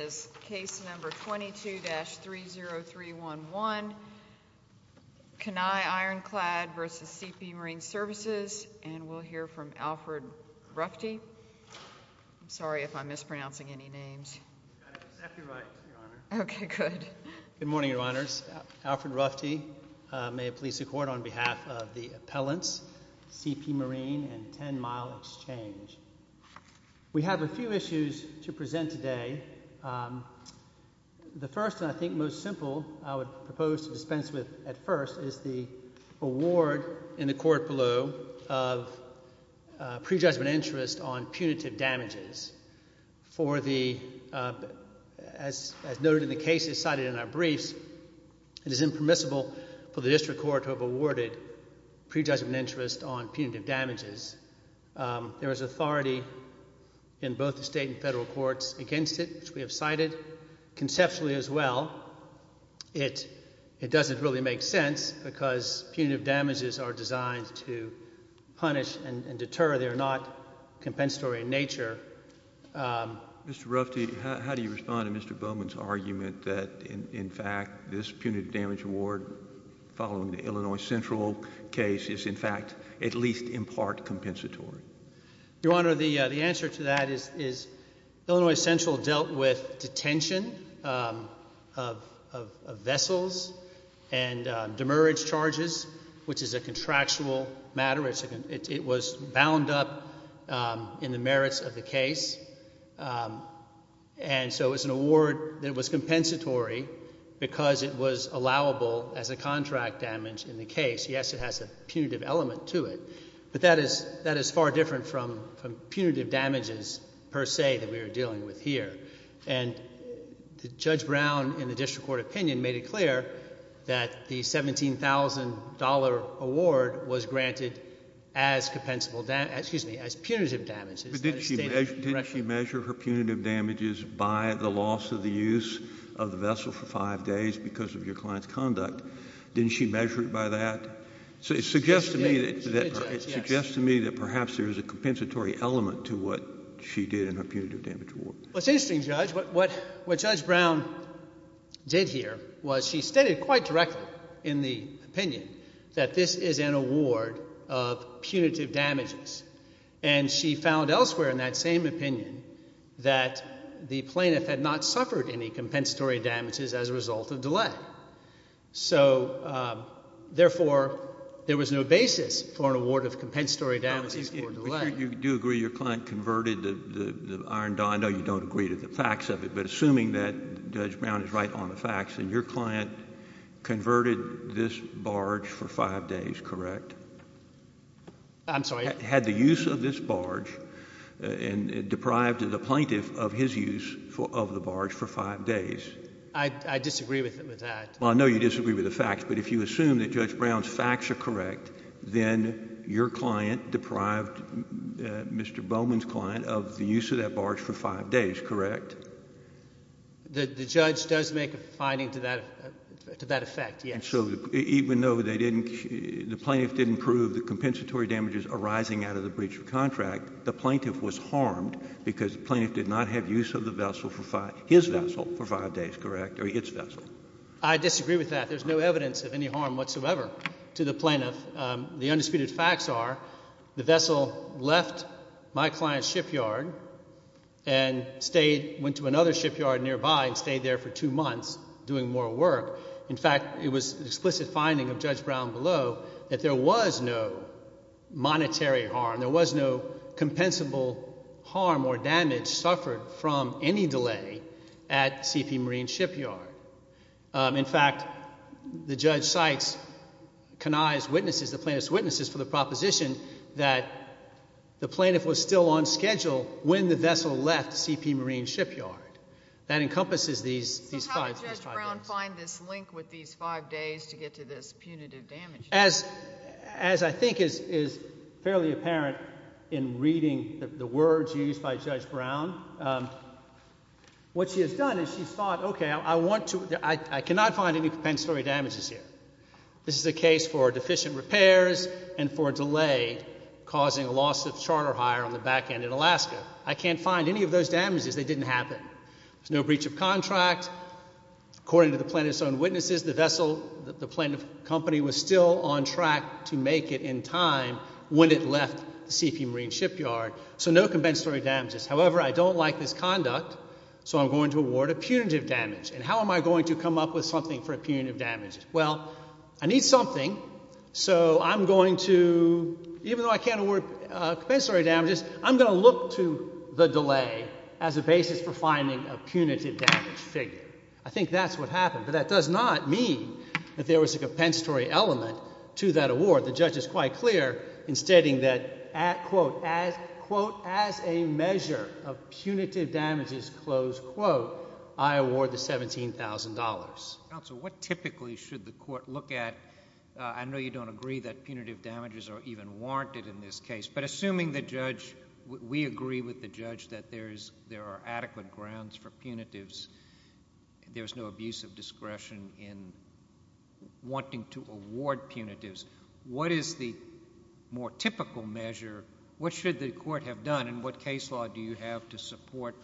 is case number 22-30311, Kanai Ironclad v. CP Marine Services, and we'll hear from Alfred Ruffte. I'm sorry if I'm mispronouncing any names. You've got it exactly right, Your Honor. Okay, good. Good morning, Your Honors. Alfred Ruffte, may it please the Court, on behalf of the appellants, CP Marine and Ten Mile Exchange. We have a few issues to present today. The first, and I think most simple, I would propose to dispense with at first is the award in the Court below of prejudgment interest on punitive damages. For the, as noted in the cases cited in our briefs, it is impermissible for the District Court to have awarded prejudgment interest on punitive damages. There is authority in both the State and Federal Courts against it, which we have cited, conceptually as well. It doesn't really make sense because punitive damages are designed to punish and deter. They are not compensatory in nature. Mr. Ruffte, how do you respond to Mr. Bowman's argument that, in fact, this punitive damage award following the Illinois Central case is, in fact, at least in part compensatory? Your Honor, the answer to that is Illinois Central dealt with detention of vessels and demerit charges, which is a contractual matter. It was bound up in the merits of the case. And so, it was an award that was compensatory because it was allowable as a contract damage in the case. Yes, it has a punitive element to it, but that is far different from punitive damages per se that we are dealing with here. And Judge Brown, in the District Court opinion, made it clear that the $17,000 award was granted as punitive damages. But didn't she measure her punitive damages by the loss of the use of the vessel for five days because of your client's conduct? Didn't she measure it by that? She did. She did, Judge, yes. It suggests to me that perhaps there is a compensatory element to what she did in her punitive damage award. Well, it's interesting, Judge. What Judge Brown did here was she stated quite directly in the opinion that this is an award of punitive damages. And she found elsewhere in that same opinion that the plaintiff had not suffered any compensatory damages as a result of delay. So therefore, there was no basis for an award of compensatory damages for delay. You do agree your client converted the iron die? No, you don't agree to the facts of it, but assuming that Judge Brown is right on the facts and your client converted this barge for five days, correct? I'm sorry? Had the use of this barge deprived the plaintiff of his use of the barge for five days? I disagree with that. Well, I know you disagree with the facts, but if you assume that Judge Brown's facts are correct, then your client deprived Mr. Bowman's client of the use of that barge for five days, correct? The judge does make a finding to that effect, yes. And so even though they didn't—the plaintiff didn't prove the compensatory damages arising out of the breach of contract, the plaintiff was harmed because the plaintiff did not have use of the vessel for five—his vessel for five days, correct, or its vessel? I disagree with that. There's no evidence of any harm whatsoever to the plaintiff. The undisputed facts are the vessel left my client's shipyard and stayed—went to another shipyard nearby and stayed there for two months doing more work. In fact, it was an explicit finding of Judge Brown below that there was no monetary harm. There was no compensable harm or damage suffered from any delay at CP Marine Shipyard. In fact, the judge cites Kenai's witnesses, the plaintiff's witnesses, for the proposition that the plaintiff was still on schedule when the vessel left CP Marine Shipyard. That encompasses these— How did Judge Brown find this link with these five days to get to this punitive damage? As I think is fairly apparent in reading the words used by Judge Brown, what she has done is she's thought, okay, I want to—I cannot find any compensatory damages here. This is a case for deficient repairs and for delay causing a loss of charter hire on the back end in Alaska. I can't find any of those damages. They didn't happen. There's no breach of contract. According to the plaintiff's own witnesses, the vessel—the plaintiff's company was still on track to make it in time when it left CP Marine Shipyard, so no compensatory damages. However, I don't like this conduct, so I'm going to award a punitive damage. And how am I going to come up with something for a punitive damage? Well, I need something, so I'm going to—even though I can't award compensatory damages, I'm going to look to the delay as a basis for finding a punitive damage figure. I think that's what happened, but that does not mean that there was a compensatory element to that award. The judge is quite clear in stating that, quote, as a measure of punitive damages, close quote, I award the $17,000. Counsel, what typically should the court look at? I know you don't agree that punitive damages are even warranted in this case, but assuming the judge—we agree with the judge that there are adequate grounds for punitives, there's no abuse of discretion in wanting to award punitives. What is the more typical measure? What should the court have done, and what case law do you have to support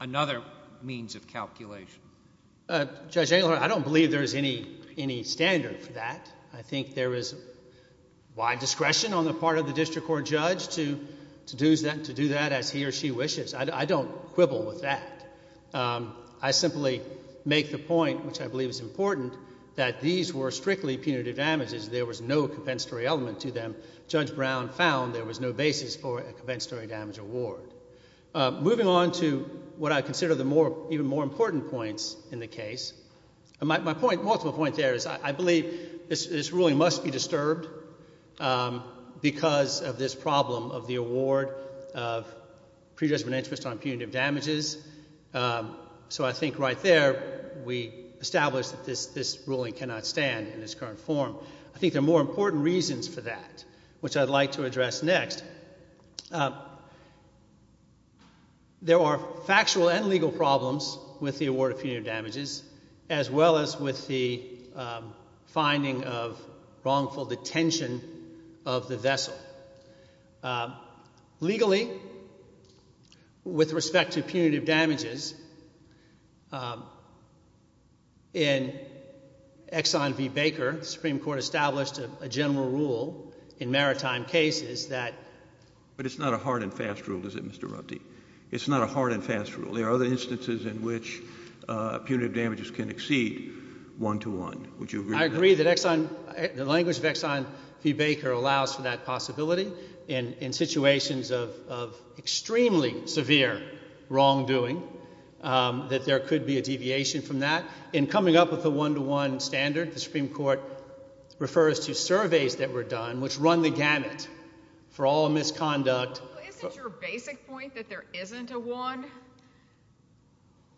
another means of calculation? Judge Engler, I don't believe there's any standard for that. I think there is wide discretion on the part of the district court judge to do that as he or she wishes. I don't quibble with that. I simply make the point, which I believe is important, that these were strictly punitive damages. There was no compensatory element to them. Judge Brown found there was no basis for a compensatory damage award. Moving on to what I consider the more—even more important points in the case, my point—multiple point there is I believe this ruling must be disturbed because of this problem of the award of predetermined interest on punitive damages. So I think right there we establish that this ruling cannot stand in its current form. I think there are more important reasons for that, which I'd like to address next. Next, there are factual and legal problems with the award of punitive damages, as well as with the finding of wrongful detention of the vessel. Legally, with respect to punitive damages, in Exxon v. Baker, the Supreme Court established a general rule in maritime cases that— But it's not a hard and fast rule, is it, Mr. Rupte? It's not a hard and fast rule. There are other instances in which punitive damages can exceed one-to-one. Would you agree with that? I agree that Exxon—the language of Exxon v. Baker allows for that possibility. In situations of extremely severe wrongdoing, that there could be a deviation from that. In coming up with a one-to-one standard, the Supreme Court refers to surveys that were done which run the gamut for all misconduct— Isn't your basic point that there isn't a one?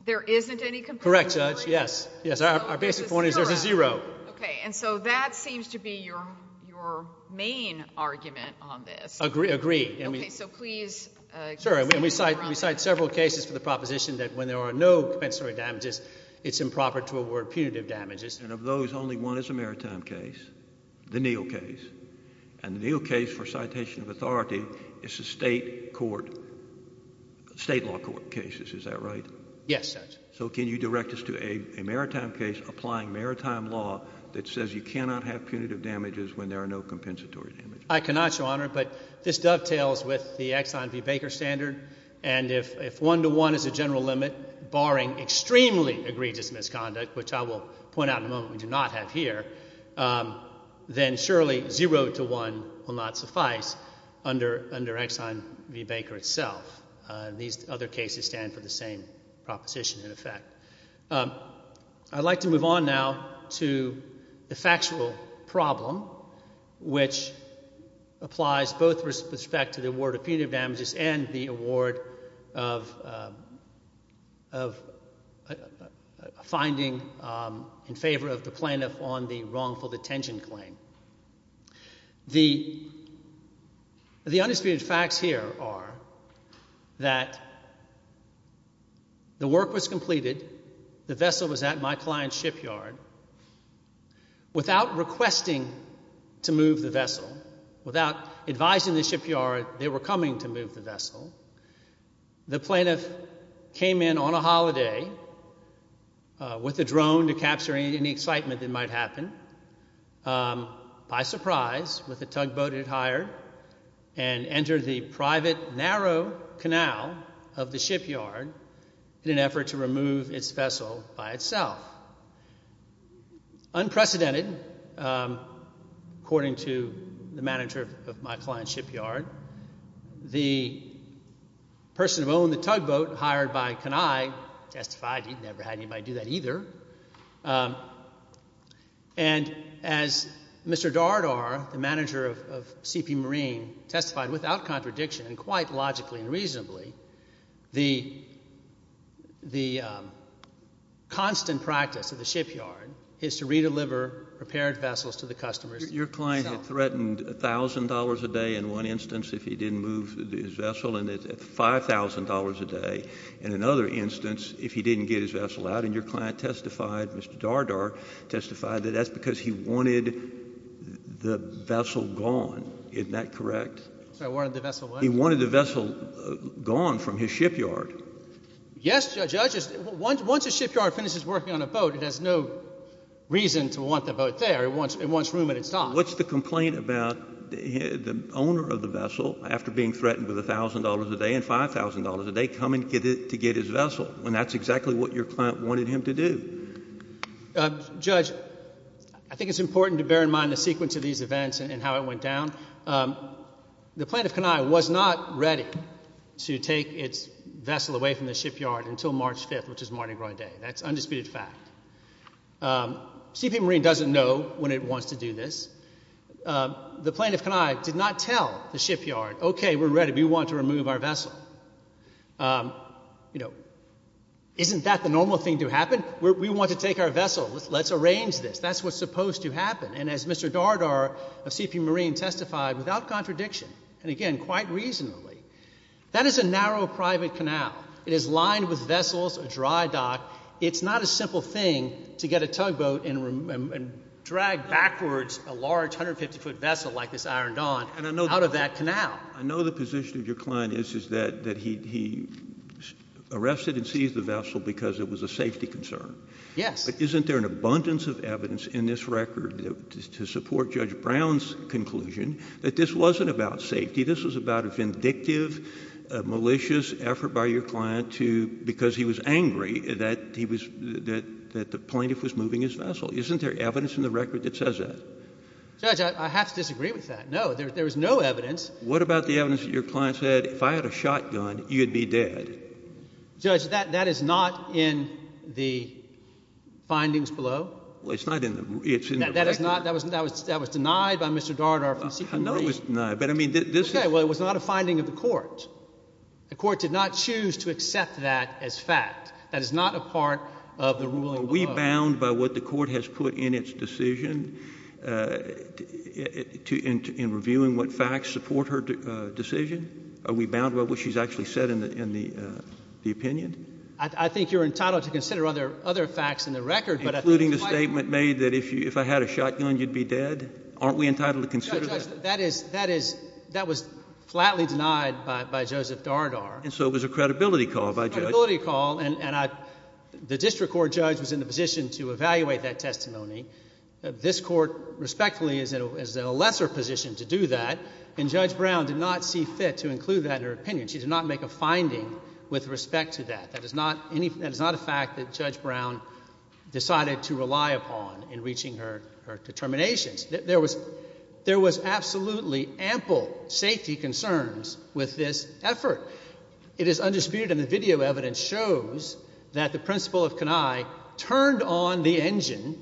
There isn't any— Correct, Judge. Yes. Our basic point is there's a zero. Okay. And so that seems to be your main argument on this. Agreed. Okay. So please— Sure. And we cite several cases for the proposition that when there are no compensatory damages, it's improper to award punitive damages. And of those, only one is a maritime case, the Neal case. And the Neal case, for citation of authority, is a state court—state law court case. Is that right? Yes, Judge. So can you direct us to a maritime case applying maritime law that says you cannot have punitive damages when there are no compensatory damages? I cannot, Your Honor. But this dovetails with the Exxon v. Baker standard. And if one-to-one is the general limit, barring extremely egregious misconduct, which I will point out in a moment we do not have here, then surely zero-to-one will not suffice under Exxon v. Baker itself. These other cases stand for the same proposition, in effect. I'd like to move on now to the factual problem, which applies both with respect to the award of punitive damages and the award of a finding in favor of the plaintiff on the wrongful detention claim. The undisputed facts here are that the work was completed, the vessel was at my client's shipyard. Without requesting to move the vessel, without advising the shipyard they were coming to move the vessel, the plaintiff came in on a holiday with a drone to capture any excitement that might happen, by surprise, with a tugboat he'd hired, and entered the private, narrow canal of the shipyard in an effort to remove its vessel by itself. Unprecedented, according to the manager of my client's shipyard, the person who owned the tugboat, hired by Kenai, testified he'd never had anybody do that either, and as Mr. Dardar, the manager of CP Marine, testified without contradiction and quite logically and reasonably, the constant practice of the shipyard is to re-deliver repaired vessels to the customers themselves. Your client had threatened $1,000 a day in one instance if he didn't move his vessel and $5,000 a day in another instance if he didn't get his vessel out, and your client testified, Mr. Dardar testified, that that's because he wanted the vessel gone. Isn't that correct? He wanted the vessel what? He wanted the vessel gone from his shipyard. Yes, Judge. Once a shipyard finishes working on a boat, it has no reason to want the boat there. It wants room at its dock. What's the complaint about the owner of the vessel, after being threatened with $1,000 a day and $5,000 a day, coming to get his vessel, when that's exactly what your client wanted him to do? Judge, I think it's important to bear in mind the sequence of these events and how it went The plaintiff, Kenai, was not ready to take its vessel away from the shipyard until March 5th, which is Mardi Gras Day. That's undisputed fact. CP Marine doesn't know when it wants to do this. The plaintiff, Kenai, did not tell the shipyard, okay, we're ready. We want to remove our vessel. Isn't that the normal thing to happen? We want to take our vessel. Let's arrange this. That's what's supposed to happen. And as Mr. Dardar of CP Marine testified, without contradiction, and again, quite reasonably, that is a narrow private canal. It is lined with vessels, a dry dock. It's not a simple thing to get a tugboat and drag backwards a large 150-foot vessel like this Iron Dawn out of that canal. I know the position of your client is that he arrested and seized the vessel because it was a safety concern. Yes. But isn't there an abundance of evidence in this record to support Judge Brown's conclusion that this wasn't about safety? This was about a vindictive, malicious effort by your client because he was angry that the plaintiff was moving his vessel. Isn't there evidence in the record that says that? Judge, I have to disagree with that. No, there is no evidence. What about the evidence that your client said, if I had a shotgun, you'd be dead? Judge, that is not in the findings below. Well, it's not in the record. That was denied by Mr. Dardar from CP Marine. I know it was denied, but I mean, this is— Okay, well, it was not a finding of the court. The court did not choose to accept that as fact. That is not a part of the ruling below. Are we bound by what the court has put in its decision in reviewing what facts support her decision? Are we bound by what she's actually said in the opinion? I think you're entitled to consider other facts in the record, but I think— Including the statement made that if I had a shotgun, you'd be dead? Aren't we entitled to consider that? Judge, that was flatly denied by Joseph Dardar. And so it was a credibility call by Judge— It was a credibility call, and the district court judge was in the position to evaluate that testimony. This court respectfully is in a lesser position to do that, and Judge Brown did not see fit to include that in her opinion. She did not make a finding with respect to that. That is not a fact that Judge Brown decided to rely upon in reaching her determinations. There was absolutely ample safety concerns with this effort. It is undisputed, and the video evidence shows that the principal of Kenai turned on the engine,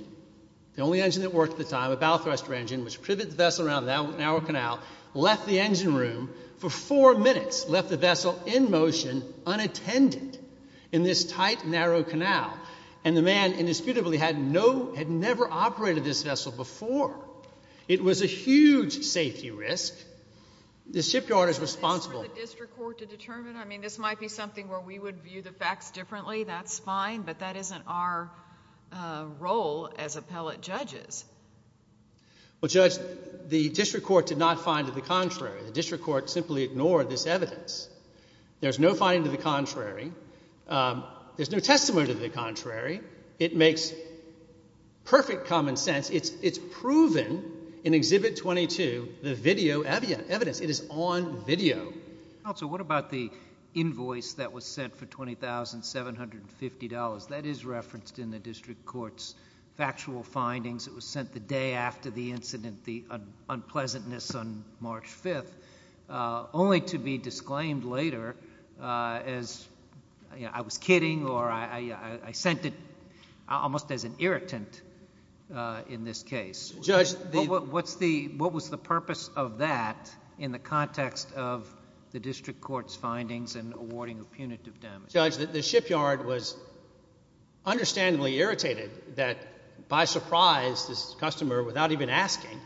the only engine that worked at the time, a bow thruster engine, which privet the vessel around a narrow canal, left the engine room for four minutes, left the vessel in motion unattended in this tight, narrow canal. And the man indisputably had no—had never operated this vessel before. It was a huge safety risk. The shipyard is responsible— Is this for the district court to determine? I mean, this might be something where we would view the facts differently. That's fine, but that isn't our role as appellate judges. Well, Judge, the district court did not find to the contrary. The district court simply ignored this evidence. There's no finding to the contrary. There's no testimony to the contrary. It makes perfect common sense. It's proven in Exhibit 22, the video evidence. It is on video. Counsel, what about the invoice that was sent for $20,750? That is referenced in the district court's factual findings. It was sent the day after the incident, the unpleasantness on March 5th, only to be disclaimed later as I was kidding or I sent it almost as an irritant in this case. What was the purpose of that in the context of the district court's findings and awarding of punitive damages? Judge, the shipyard was understandably irritated that by surprise this customer, without even asking,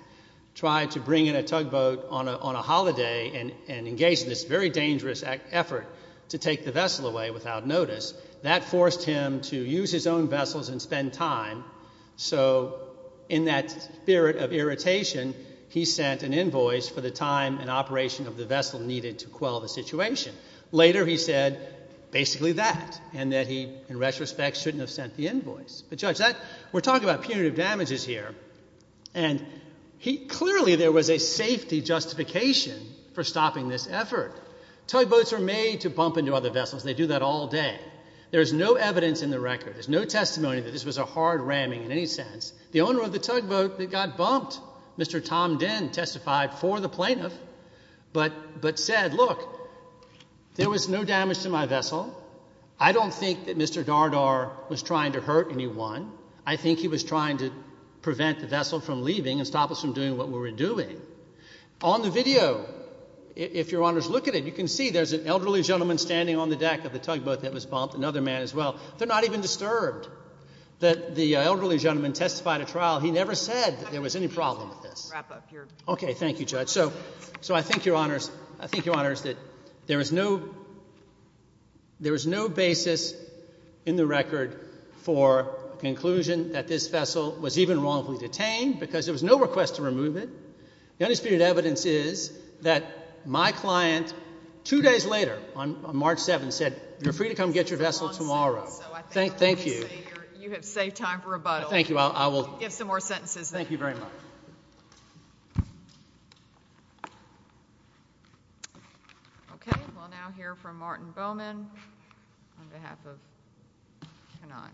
tried to bring in a tugboat on a holiday and engage in this very dangerous effort to take the vessel away without notice. That forced him to use his own vessels and spend time. So in that spirit of irritation, he sent an invoice for the time and operation of the vessel needed to quell the situation. Later he said basically that and that he, in retrospect, shouldn't have sent the invoice. But Judge, we're talking about punitive damages here, and clearly there was a safety justification for stopping this effort. Tugboats are made to bump into other vessels. They do that all day. There is no evidence in the record. There's no testimony that this was a hard ramming in any sense. The owner of the tugboat that got bumped, Mr. Tom Denn, testified for the plaintiff but said, look, there was no damage to my vessel. I don't think that Mr. Dardar was trying to hurt anyone. I think he was trying to prevent the vessel from leaving and stop us from doing what we were doing. On the video, if Your Honors look at it, you can see there's an elderly gentleman standing on the deck of the tugboat that was bumped, another man as well. They're not even disturbed that the elderly gentleman testified at trial. He never said that there was any problem with this. Okay. Thank you, Judge. So I think, Your Honors, I think, Your Honors, that there is no basis in the record for a conclusion that this vessel was even wrongfully detained because there was no request to remove it. The only spirited evidence is that my client two days later on March 7th said, You're free to come get your vessel tomorrow. Thank you. You have saved time for rebuttal. Thank you. I will give some more sentences. Thank you very much. Okay. We'll now hear from Martin Bowman on behalf of Kenai.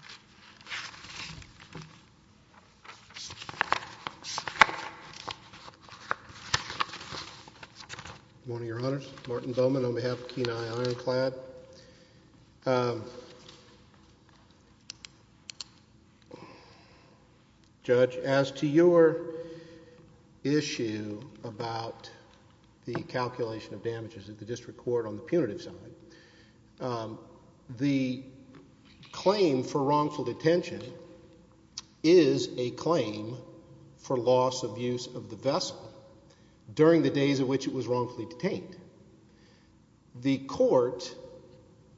Good morning, Your Honors. Martin Bowman on behalf of Kenai Ironclad. Judge, as to your issue about the calculation of damages at the district court on the punitive side, the claim for wrongful detention is a claim for loss of use of the vessel during the days in which it was wrongfully detained. The court,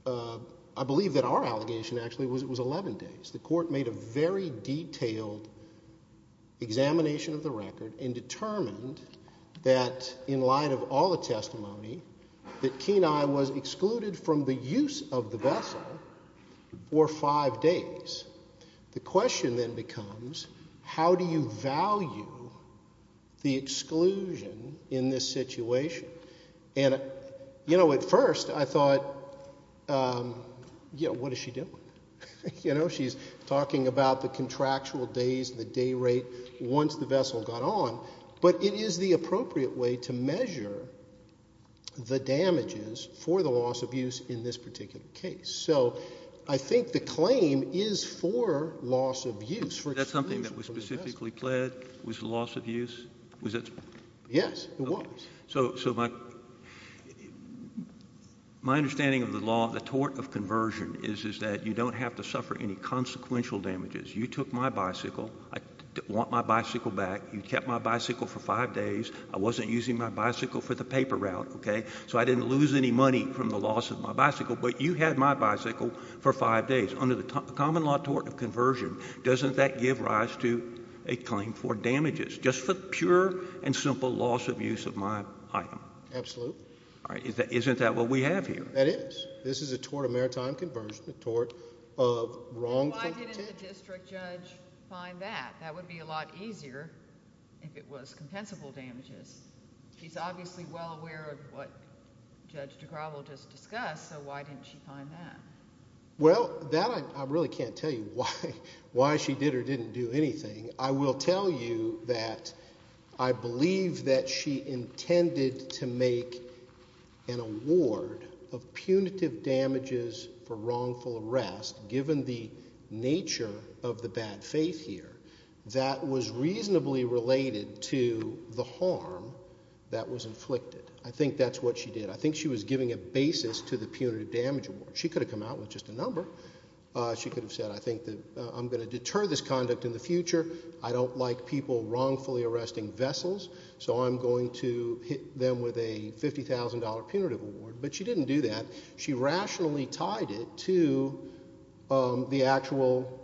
I believe that our allegation actually was it was 11 days. The court made a very detailed examination of the record and determined that in light of all the testimony, that Kenai was excluded from the use of the vessel for five days. The question then becomes how do you value the exclusion in this situation? And, you know, at first I thought, you know, what is she doing? You know, she's talking about the contractual days, the day rate once the vessel got on. But it is the appropriate way to measure the damages for the loss of use in this particular case. So I think the claim is for loss of use. Was that something that was specifically pled, was the loss of use? Yes, it was. So my understanding of the law, the tort of conversion, is that you don't have to suffer any consequential damages. You took my bicycle. I want my bicycle back. You kept my bicycle for five days. I wasn't using my bicycle for the paper route, okay, so I didn't lose any money from the loss of my bicycle, but you had my bicycle for five days. Under the common law tort of conversion, doesn't that give rise to a claim for damages? Just for pure and simple loss of use of my item. Absolutely. All right. Isn't that what we have here? That is. This is a tort of maritime conversion, a tort of wrongful contention. Why didn't the district judge find that? That would be a lot easier if it was compensable damages. She's obviously well aware of what Judge DeGraw will just discuss, so why didn't she find that? Well, that I really can't tell you why she did or didn't do anything. I will tell you that I believe that she intended to make an award of punitive damages for wrongful arrest, given the nature of the bad faith here, that was reasonably related to the harm that was inflicted. I think that's what she did. I think she was giving a basis to the punitive damage award. She could have said, I think that I'm going to deter this conduct in the future. I don't like people wrongfully arresting vessels, so I'm going to hit them with a $50,000 punitive award. But she didn't do that. She rationally tied it to the actual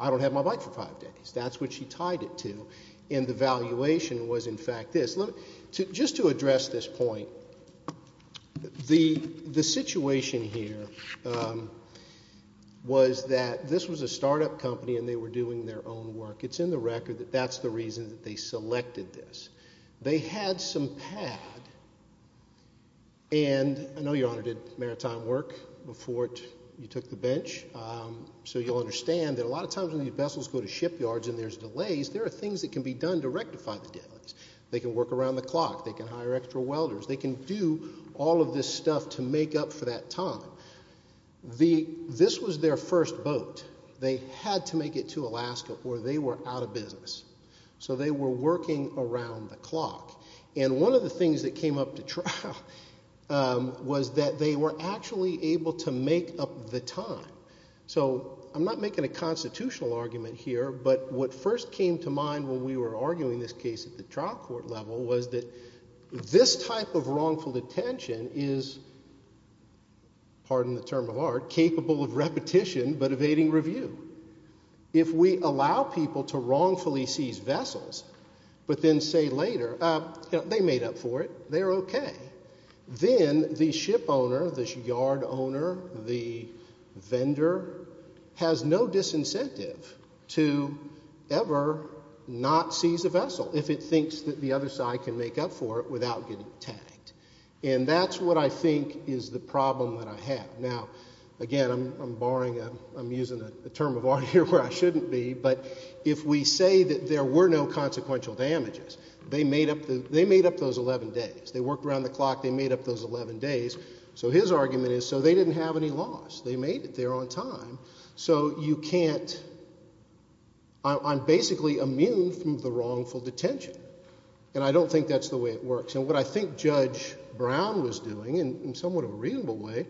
I don't have my bike for five days. That's what she tied it to. And the valuation was, in fact, this. Just to address this point, the situation here was that this was a start-up company and they were doing their own work. It's in the record that that's the reason that they selected this. They had some pad, and I know, Your Honor, did maritime work before you took the bench, so you'll understand that a lot of times when these vessels go to shipyards and there's delays, there are things that can be done to rectify the delays. They can work around the clock. They can hire extra welders. They can do all of this stuff to make up for that time. This was their first boat. They had to make it to Alaska or they were out of business. So they were working around the clock. And one of the things that came up to trial was that they were actually able to make up the time. So I'm not making a constitutional argument here, but what first came to mind when we were arguing this case at the trial court level was that this type of wrongful detention is, pardon the term of art, capable of repetition but evading review. If we allow people to wrongfully seize vessels but then say later, they made up for it, they're okay, then the ship owner, the yard owner, the vendor has no disincentive to ever not seize a vessel if it thinks that the other side can make up for it without getting tagged. And that's what I think is the problem that I have. Now, again, I'm using a term of art here where I shouldn't be, but if we say that there were no consequential damages, they made up those 11 days. They worked around the clock. They made up those 11 days. So his argument is so they didn't have any loss. They made it there on time. So you can't – I'm basically immune from the wrongful detention, and I don't think that's the way it works. And what I think Judge Brown was doing in somewhat of a reasonable way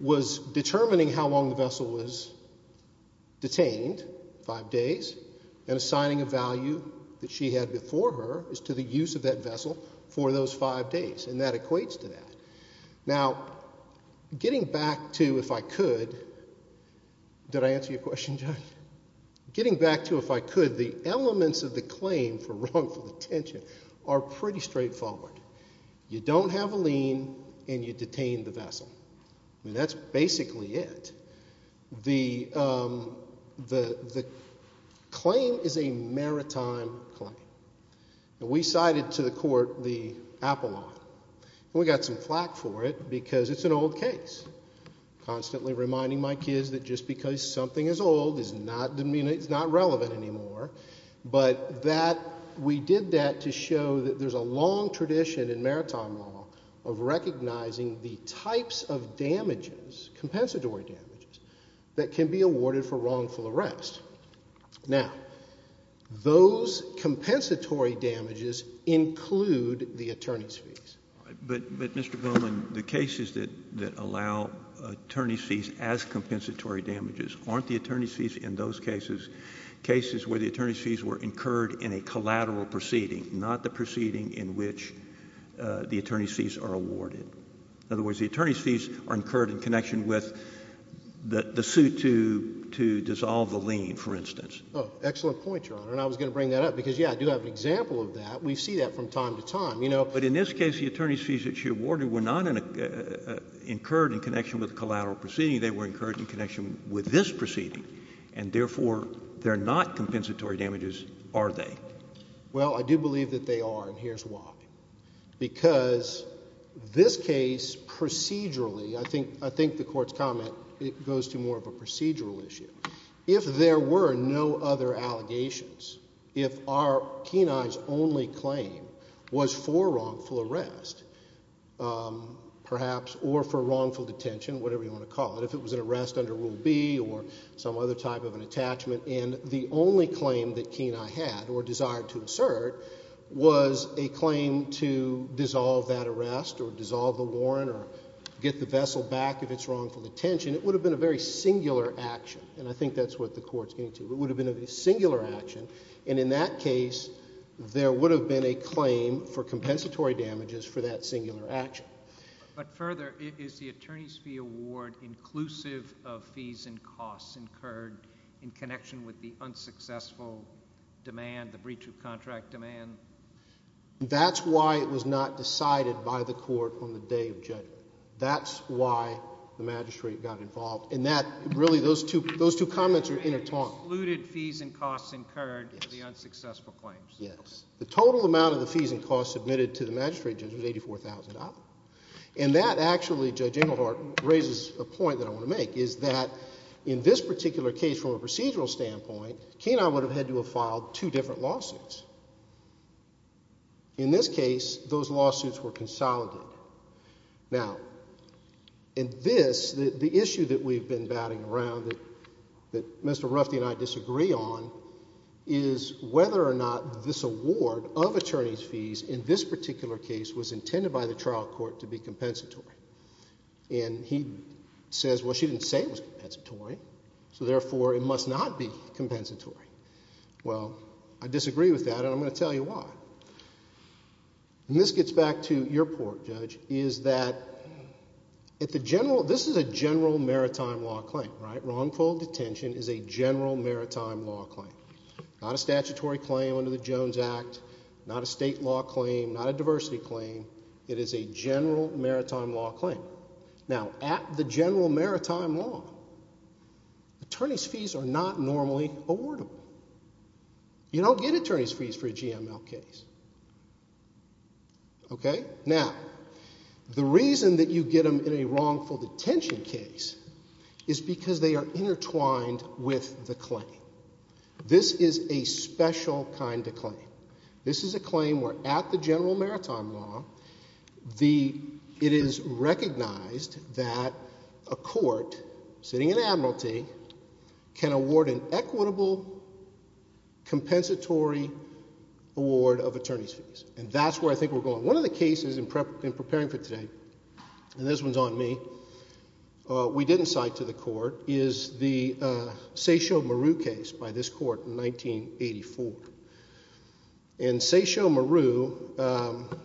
was determining how long the vessel was detained, five days, and assigning a value that she had before her as to the use of that vessel for those five days, and that equates to that. Now, getting back to if I could – did I answer your question, Judge? Getting back to if I could, the elements of the claim for wrongful detention are pretty straightforward. You don't have a lien and you detain the vessel. I mean, that's basically it. The claim is a maritime claim. We cited to the court the Apollon, and we got some flack for it because it's an old case, constantly reminding my kids that just because something is old, it's not relevant anymore, but that we did that to show that there's a long tradition in maritime law of recognizing the types of damages, compensatory damages, that can be awarded for wrongful arrest. Now, those compensatory damages include the attorney's fees. But, Mr. Bowman, the cases that allow attorney's fees as compensatory damages aren't the attorney's fees in those cases, cases where the attorney's fees were incurred in a collateral proceeding, not the proceeding in which the attorney's fees are awarded. In other words, the attorney's fees are incurred in connection with the suit to dissolve the lien, for instance. Oh, excellent point, Your Honor. And I was going to bring that up because, yeah, I do have an example of that. We see that from time to time. But in this case, the attorney's fees that she awarded were not incurred in connection with the collateral proceeding. They were incurred in connection with this proceeding, and therefore they're not compensatory damages, are they? Well, I do believe that they are, and here's why. Because this case procedurally, I think the Court's comment goes to more of a procedural issue. If there were no other allegations, if Kenai's only claim was for wrongful arrest, perhaps, or for wrongful detention, whatever you want to call it, if it was an arrest under Rule B or some other type of an attachment, and the only claim that Kenai had or desired to assert was a claim to dissolve that arrest or dissolve the warrant or get the vessel back if it's wrongful detention, it would have been a very singular action, and I think that's what the Court's getting to. It would have been a singular action, and in that case, there would have been a claim for compensatory damages for that singular action. But further, is the attorney's fee award inclusive of fees and costs incurred in connection with the unsuccessful demand, the breach of contract demand? That's why it was not decided by the Court on the day of judgment. That's why the magistrate got involved, and really those two comments are intertwined. The attorney excluded fees and costs incurred for the unsuccessful claims. Yes. The total amount of the fees and costs submitted to the magistrate, Judge, was $84,000. And that actually, Judge Inglehart, raises a point that I want to make, is that in this particular case from a procedural standpoint, Kenai would have had to have filed two different lawsuits. In this case, those lawsuits were consolidated. Now, in this, the issue that we've been batting around that Mr. Ruffey and I disagree on is whether or not this award of attorney's fees in this particular case was intended by the trial court to be compensatory. And he says, well, she didn't say it was compensatory, so therefore it must not be compensatory. Well, I disagree with that, and I'm going to tell you why. And this gets back to your point, Judge, is that this is a general maritime law claim. Right? Wrongful detention is a general maritime law claim. Not a statutory claim under the Jones Act, not a state law claim, not a diversity claim. It is a general maritime law claim. Now, at the general maritime law, attorney's fees are not normally awardable. You don't get attorney's fees for a GML case. Okay? Now, the reason that you get them in a wrongful detention case is because they are intertwined with the claim. This is a special kind of claim. This is a claim where at the general maritime law, it is recognized that a court sitting in admiralty can award an equitable compensatory award of attorney's fees. And that's where I think we're going. One of the cases in preparing for today, and this one's on me, we didn't cite to the court, is the Seisho Maru case by this court in 1984. And Seisho Maru,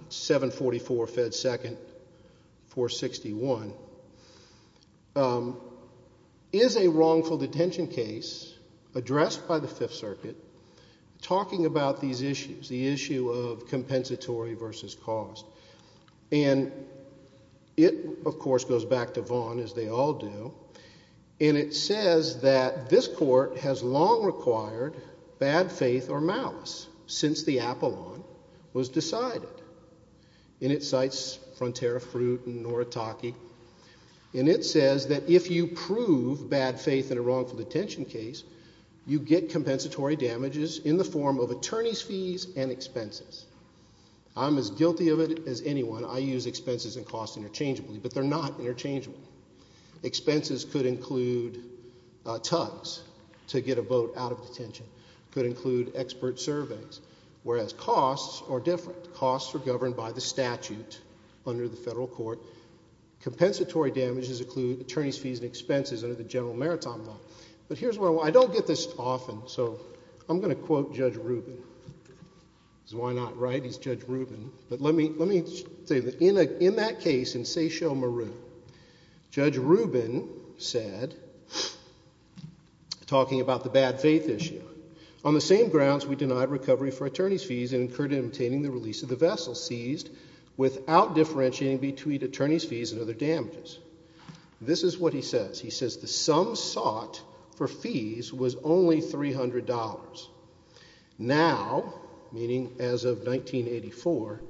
744 Fed 2nd, 461, is a wrongful detention case addressed by the Fifth Circuit talking about these issues, the issue of compensatory versus cost. And it, of course, goes back to Vaughn, as they all do, and it says that this court has long required bad faith or malice since the Apollon was decided. And it cites Frontera Fruit and Noritake. And it says that if you prove bad faith in a wrongful detention case, you get compensatory damages in the form of attorney's fees and expenses. I'm as guilty of it as anyone. I use expenses and costs interchangeably, but they're not interchangeable. Expenses could include tugs to get a boat out of detention, could include expert surveys, whereas costs are different. Costs are governed by the statute under the federal court. Compensatory damages include attorney's fees and expenses under the general maritime law. But here's where I want to go. I don't get this often, so I'm going to quote Judge Rubin. Why not, right? He's Judge Rubin. But let me say this. In that case in Seychelles, Meru, Judge Rubin said, talking about the bad faith issue, on the same grounds we denied recovery for attorney's fees and incurred in obtaining the release of the vessel seized without differentiating between attorney's fees and other damages. This is what he says. He says the sum sought for fees was only $300. Now, meaning as of 1984,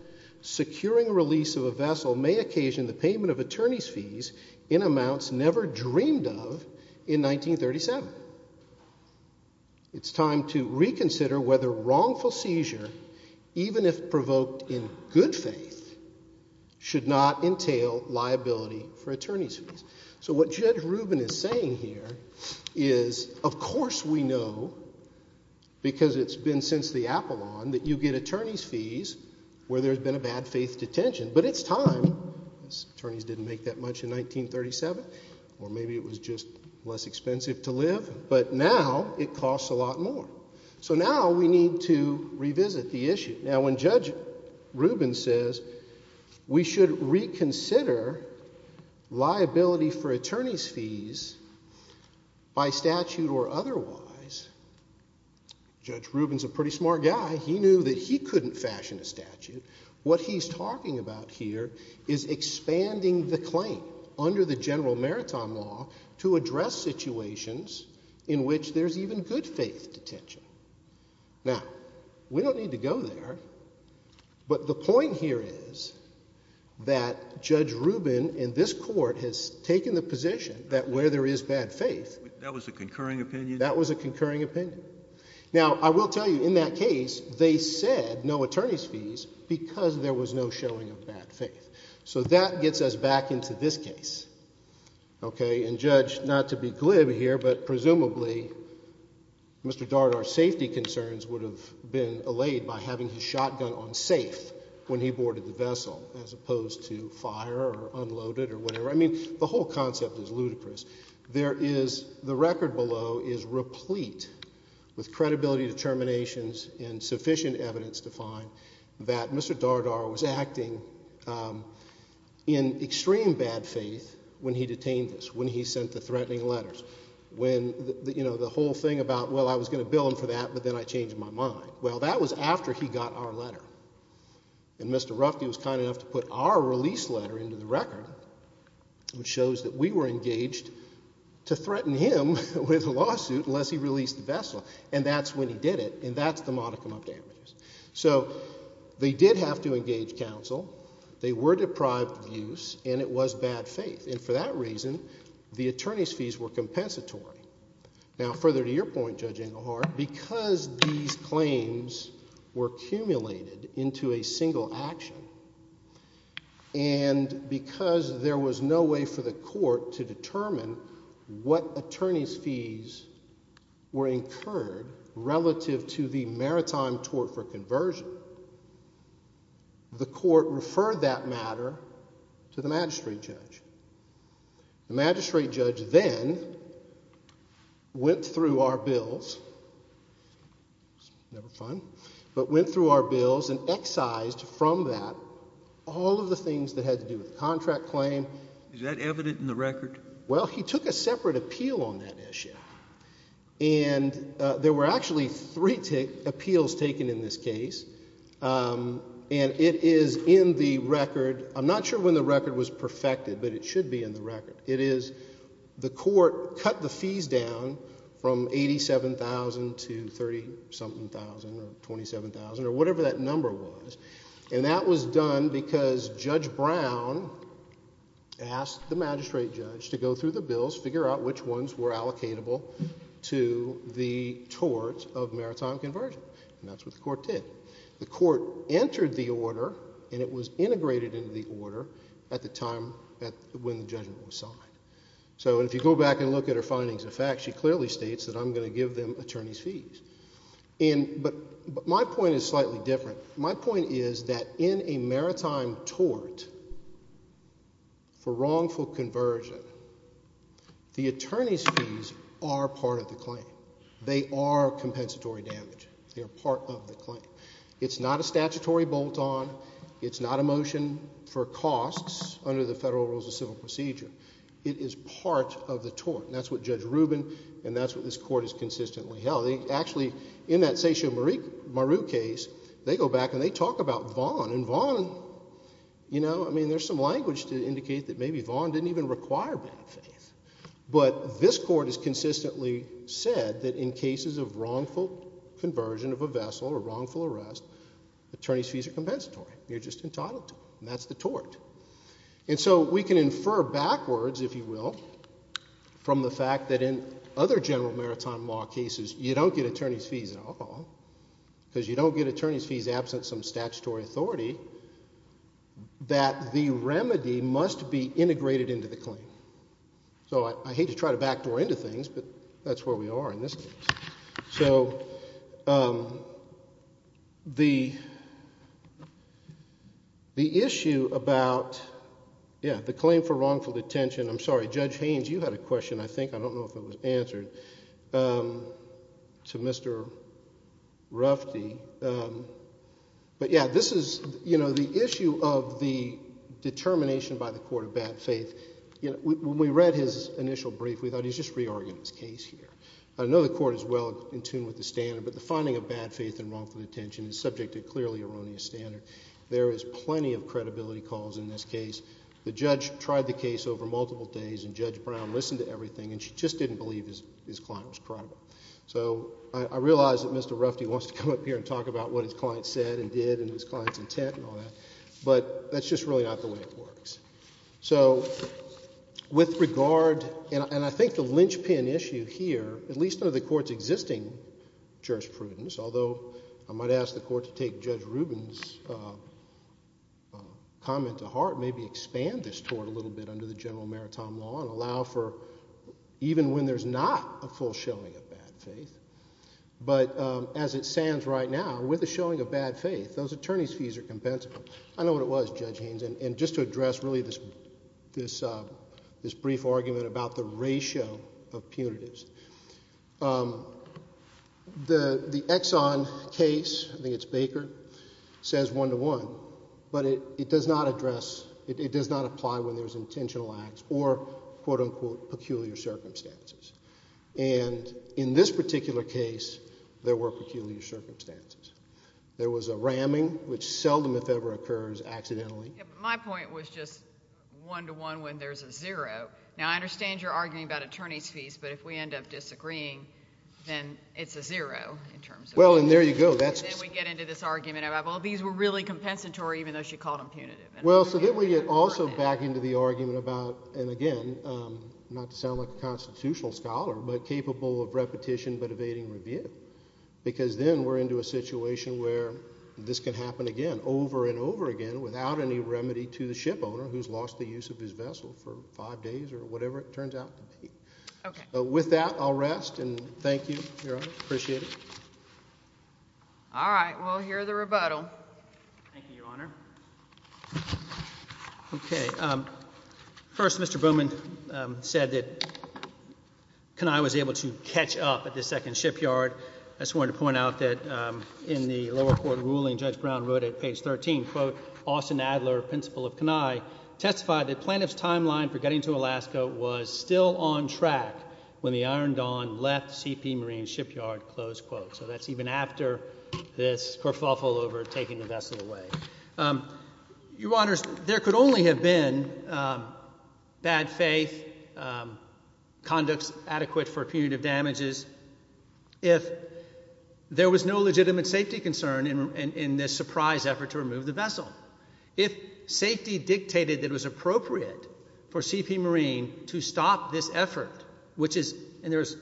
securing release of a vessel may occasion the payment of attorney's fees in amounts never dreamed of in 1937. It's time to reconsider whether wrongful seizure, even if provoked in good faith, So what Judge Rubin is saying here is, of course we know, because it's been since the Apollon, that you get attorney's fees where there's been a bad faith detention. But it's time. Attorneys didn't make that much in 1937. Or maybe it was just less expensive to live. But now it costs a lot more. So now we need to revisit the issue. Now, when Judge Rubin says we should reconsider liability for attorney's fees by statute or otherwise, Judge Rubin's a pretty smart guy. He knew that he couldn't fashion a statute. What he's talking about here is expanding the claim under the General Maritime Law to address situations in which there's even good faith detention. Now, we don't need to go there. But the point here is that Judge Rubin in this court has taken the position that where there is bad faith, That was a concurring opinion? That was a concurring opinion. Now, I will tell you, in that case, they said no attorney's fees because there was no showing of bad faith. So that gets us back into this case. And Judge, not to be glib here, but presumably Mr. Dardar's safety concerns would have been allayed by having his shotgun on safe when he boarded the vessel as opposed to fire or unloaded or whatever. I mean, the whole concept is ludicrous. The record below is replete with credibility determinations and sufficient evidence to find that Mr. Dardar was acting in extreme bad faith when he detained us, when he sent the threatening letters. When, you know, the whole thing about, well, I was going to bill him for that, but then I changed my mind. Well, that was after he got our letter. And Mr. Ruffde was kind enough to put our release letter into the record, which shows that we were engaged to threaten him with a lawsuit unless he released the vessel. And that's when he did it, and that's the modicum of damages. So they did have to engage counsel. They were deprived of use, and it was bad faith. And for that reason, the attorney's fees were compensatory. Now, further to your point, Judge Englehart, because these claims were accumulated into a single action and because there was no way for the court to determine what attorney's fees were incurred relative to the maritime tort for conversion, the court referred that matter to the magistrate judge. The magistrate judge then went through our bills. It's never fun. But went through our bills and excised from that all of the things that had to do with the contract claim. Is that evident in the record? Well, he took a separate appeal on that issue. And there were actually three appeals taken in this case. And it is in the record. I'm not sure when the record was perfected, but it should be in the record. It is the court cut the fees down from $87,000 to $30-something thousand or $27,000 or whatever that number was. And that was done because Judge Brown asked the magistrate judge to go through the bills, figure out which ones were allocatable to the tort of maritime conversion. And that's what the court did. The court entered the order, and it was integrated into the order at the time when the judgment was signed. So if you go back and look at her findings of fact, she clearly states that I'm going to give them attorney's fees. But my point is slightly different. My point is that in a maritime tort for wrongful conversion, the attorney's fees are part of the claim. They are compensatory damage. They are part of the claim. It's not a statutory bolt-on. It's not a motion for costs under the Federal Rules of Civil Procedure. It is part of the tort. And that's what Judge Rubin and that's what this court has consistently held. Actually, in that Seisho Maru case, they go back and they talk about Vaughn. And Vaughn, you know, I mean there's some language to indicate that maybe Vaughn didn't even require bank fees. But this court has consistently said that in cases of wrongful conversion of a vessel or wrongful arrest, attorney's fees are compensatory. You're just entitled to them. And that's the tort. And so we can infer backwards, if you will, from the fact that in other general maritime law cases, you don't get attorney's fees at all because you don't get attorney's fees absent some statutory authority, that the remedy must be integrated into the claim. So I hate to try to backdoor into things, but that's where we are in this case. So the issue about, yeah, the claim for wrongful detention. I'm sorry, Judge Haynes, you had a question, I think. I don't know if it was answered, to Mr. Rufty. But, yeah, this is, you know, the issue of the determination by the court of bad faith. When we read his initial brief, we thought he was just re-arguing his case here. I know the court is well in tune with the standard, but the finding of bad faith and wrongful detention is subject to clearly erroneous standard. There is plenty of credibility calls in this case. The judge tried the case over multiple days, and Judge Brown listened to everything, and she just didn't believe his client was credible. So I realize that Mr. Rufty wants to come up here and talk about what his client said and did and his client's intent and all that, but that's just really not the way it works. So with regard, and I think the linchpin issue here, at least under the court's existing jurisprudence, although I might ask the court to take Judge Rubin's comment to heart, maybe expand this toward a little bit under the general maritime law and allow for even when there's not a full showing of bad faith, but as it stands right now, with the showing of bad faith, those attorney's fees are compensable. I know what it was, Judge Haynes, and just to address really this brief argument about the ratio of punitives. The Exxon case, I think it's Baker, says one-to-one, but it does not address, it does not apply when there's intentional acts or, quote-unquote, peculiar circumstances. And in this particular case, there were peculiar circumstances. There was a ramming, which seldom, if ever, occurs accidentally. My point was just one-to-one when there's a zero. Now, I understand you're arguing about attorney's fees, but if we end up disagreeing, then it's a zero in terms of— Well, and there you go. Then we get into this argument about, well, these were really compensatory even though she called them punitive. Well, so then we get also back into the argument about, and again, not to sound like a constitutional scholar, but capable of repetition but evading review because then we're into a situation where this can happen again, over and over again, without any remedy to the shipowner who's lost the use of his vessel for five days or whatever it turns out to be. With that, I'll rest, and thank you, Your Honor. Appreciate it. All right. Well, hear the rebuttal. Thank you, Your Honor. Okay. First, Mr. Bowman said that Kenai was able to catch up at the second shipyard. I just wanted to point out that in the lower court ruling, Judge Brown wrote at page 13, quote, Austin Adler, principal of Kenai, testified that plaintiff's timeline for getting to Alaska was still on track when the Iron Dawn left C.P. Marine's shipyard, close quote. So that's even after this kerfuffle over taking the vessel away. Your Honors, there could only have been bad faith, conducts adequate for punitive damages, if there was no legitimate safety concern in this surprise effort to remove the vessel. If safety dictated that it was appropriate for C.P. Marine to stop this effort, which is, and there's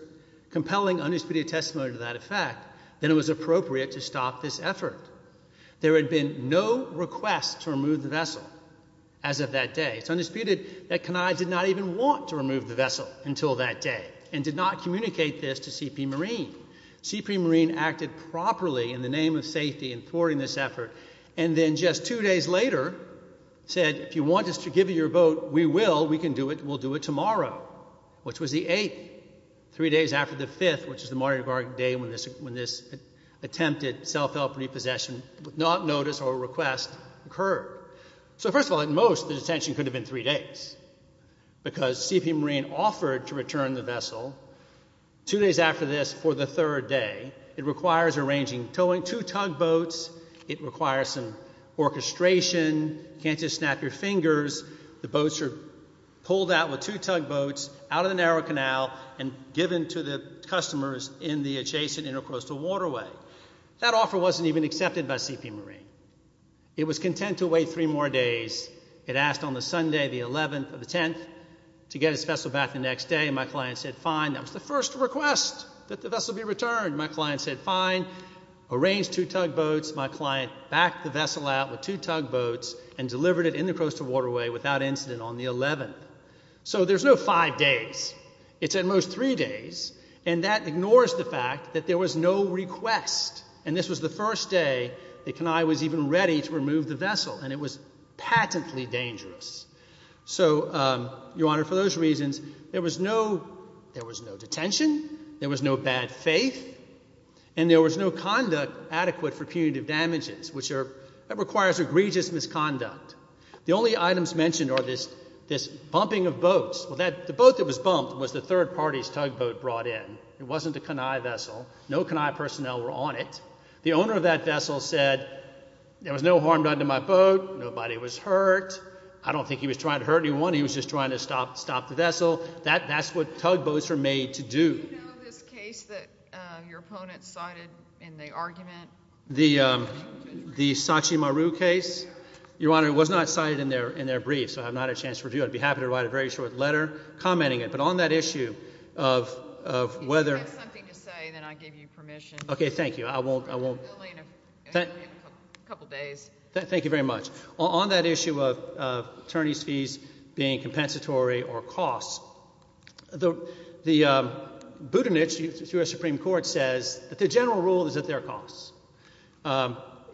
compelling undisputed testimony to that effect, that it was appropriate to stop this effort. There had been no request to remove the vessel as of that day. It's undisputed that Kenai did not even want to remove the vessel until that day and did not communicate this to C.P. Marine. C.P. Marine acted properly in the name of safety in thwarting this effort and then just two days later said, if you want us to give you your boat, we will. We can do it. We'll do it tomorrow, which was the 8th, three days after the 5th, which is the Mardi Gras day when this attempted self-help repossession, not notice or request, occurred. So first of all, at most, the detention could have been three days because C.P. Marine offered to return the vessel. Two days after this, for the third day, it requires arranging two tugboats. It requires some orchestration. Can't just snap your fingers. The boats are pulled out with two tugboats out of the narrow canal and given to the customers in the adjacent intercoastal waterway. That offer wasn't even accepted by C.P. Marine. It was content to wait three more days. It asked on the Sunday, the 11th or the 10th, to get his vessel back the next day. My client said, fine. That was the first request that the vessel be returned. My client said, fine. Arranged two tugboats. My client backed the vessel out with two tugboats and delivered it in the intercoastal waterway without incident on the 11th. So there's no five days. It's at most three days, and that ignores the fact that there was no request, and this was the first day that Kenai was even ready to remove the vessel, and it was patently dangerous. So, Your Honor, for those reasons, there was no detention, there was no bad faith, and there was no conduct adequate for punitive damages, which requires egregious misconduct. The only items mentioned are this bumping of boats. The boat that was bumped was the third party's tugboat brought in. It wasn't a Kenai vessel. No Kenai personnel were on it. The owner of that vessel said, there was no harm done to my boat. Nobody was hurt. I don't think he was trying to hurt anyone. He was just trying to stop the vessel. That's what tugboats are made to do. Do you know of this case that your opponent cited in the argument? The Saatchi Maru case? Your Honor, it was not cited in their brief, so I have not a chance to review it. I'd be happy to write a very short letter commenting it. But on that issue of whether— If you have something to say, then I give you permission. Okay, thank you. I won't— A couple days. Thank you very much. On that issue of attorneys' fees being compensatory or costs, the Budenich U.S. Supreme Court says that the general rule is that they're costs.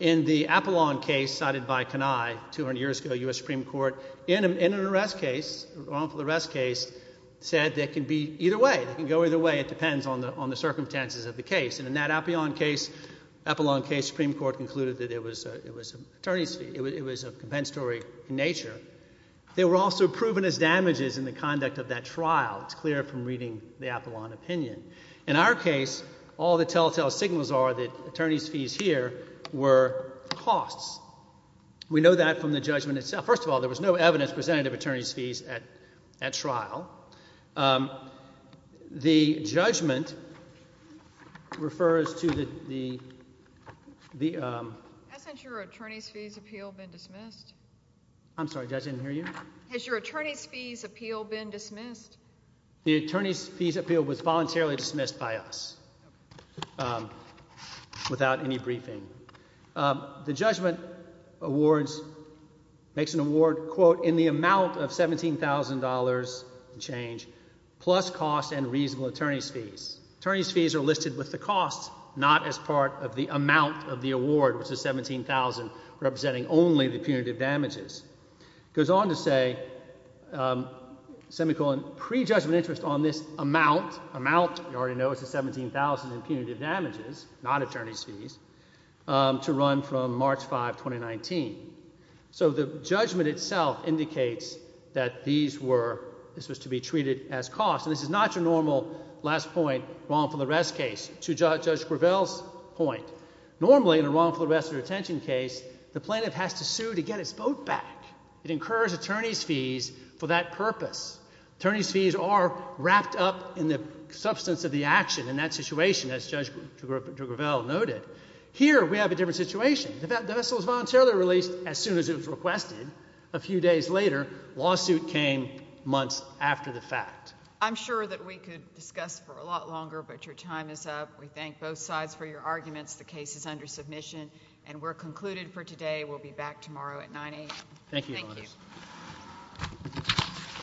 In the Apollon case cited by Kenai 200 years ago, U.S. Supreme Court, in an arrest case, wrongful arrest case, said they can be either way. They can go either way. It depends on the circumstances of the case. And in that Apollon case, Supreme Court concluded that it was a compensatory in nature. They were also proven as damages in the conduct of that trial. It's clear from reading the Apollon opinion. In our case, all the telltale signals are that attorneys' fees here were costs. We know that from the judgment itself. First of all, there was no evidence presented of attorneys' fees at trial. The judgment refers to the— Hasn't your attorneys' fees appeal been dismissed? I'm sorry, judge, I didn't hear you. Has your attorneys' fees appeal been dismissed? The attorneys' fees appeal was voluntarily dismissed by us without any briefing. The judgment awards—makes an award, quote, in the amount of $17,000 in change, plus cost and reasonable attorneys' fees. Attorneys' fees are listed with the cost, not as part of the amount of the award, which is $17,000, representing only the punitive damages. It goes on to say, semicolon, pre-judgment interest on this amount. Amount, you already know, is the $17,000 in punitive damages, not attorneys' fees. To run from March 5, 2019. So the judgment itself indicates that these were—this was to be treated as costs. And this is not your normal, last point, wrongful arrest case. To Judge Gravel's point, normally in a wrongful arrest or detention case, the plaintiff has to sue to get his vote back. It incurs attorneys' fees for that purpose. Attorneys' fees are wrapped up in the substance of the action in that situation, as Judge Gravel noted. Here, we have a different situation. The vessel was voluntarily released as soon as it was requested. A few days later, lawsuit came months after the fact. I'm sure that we could discuss for a lot longer, but your time is up. We thank both sides for your arguments. The case is under submission, and we're concluded for today. We'll be back tomorrow at 9 a.m. Thank you.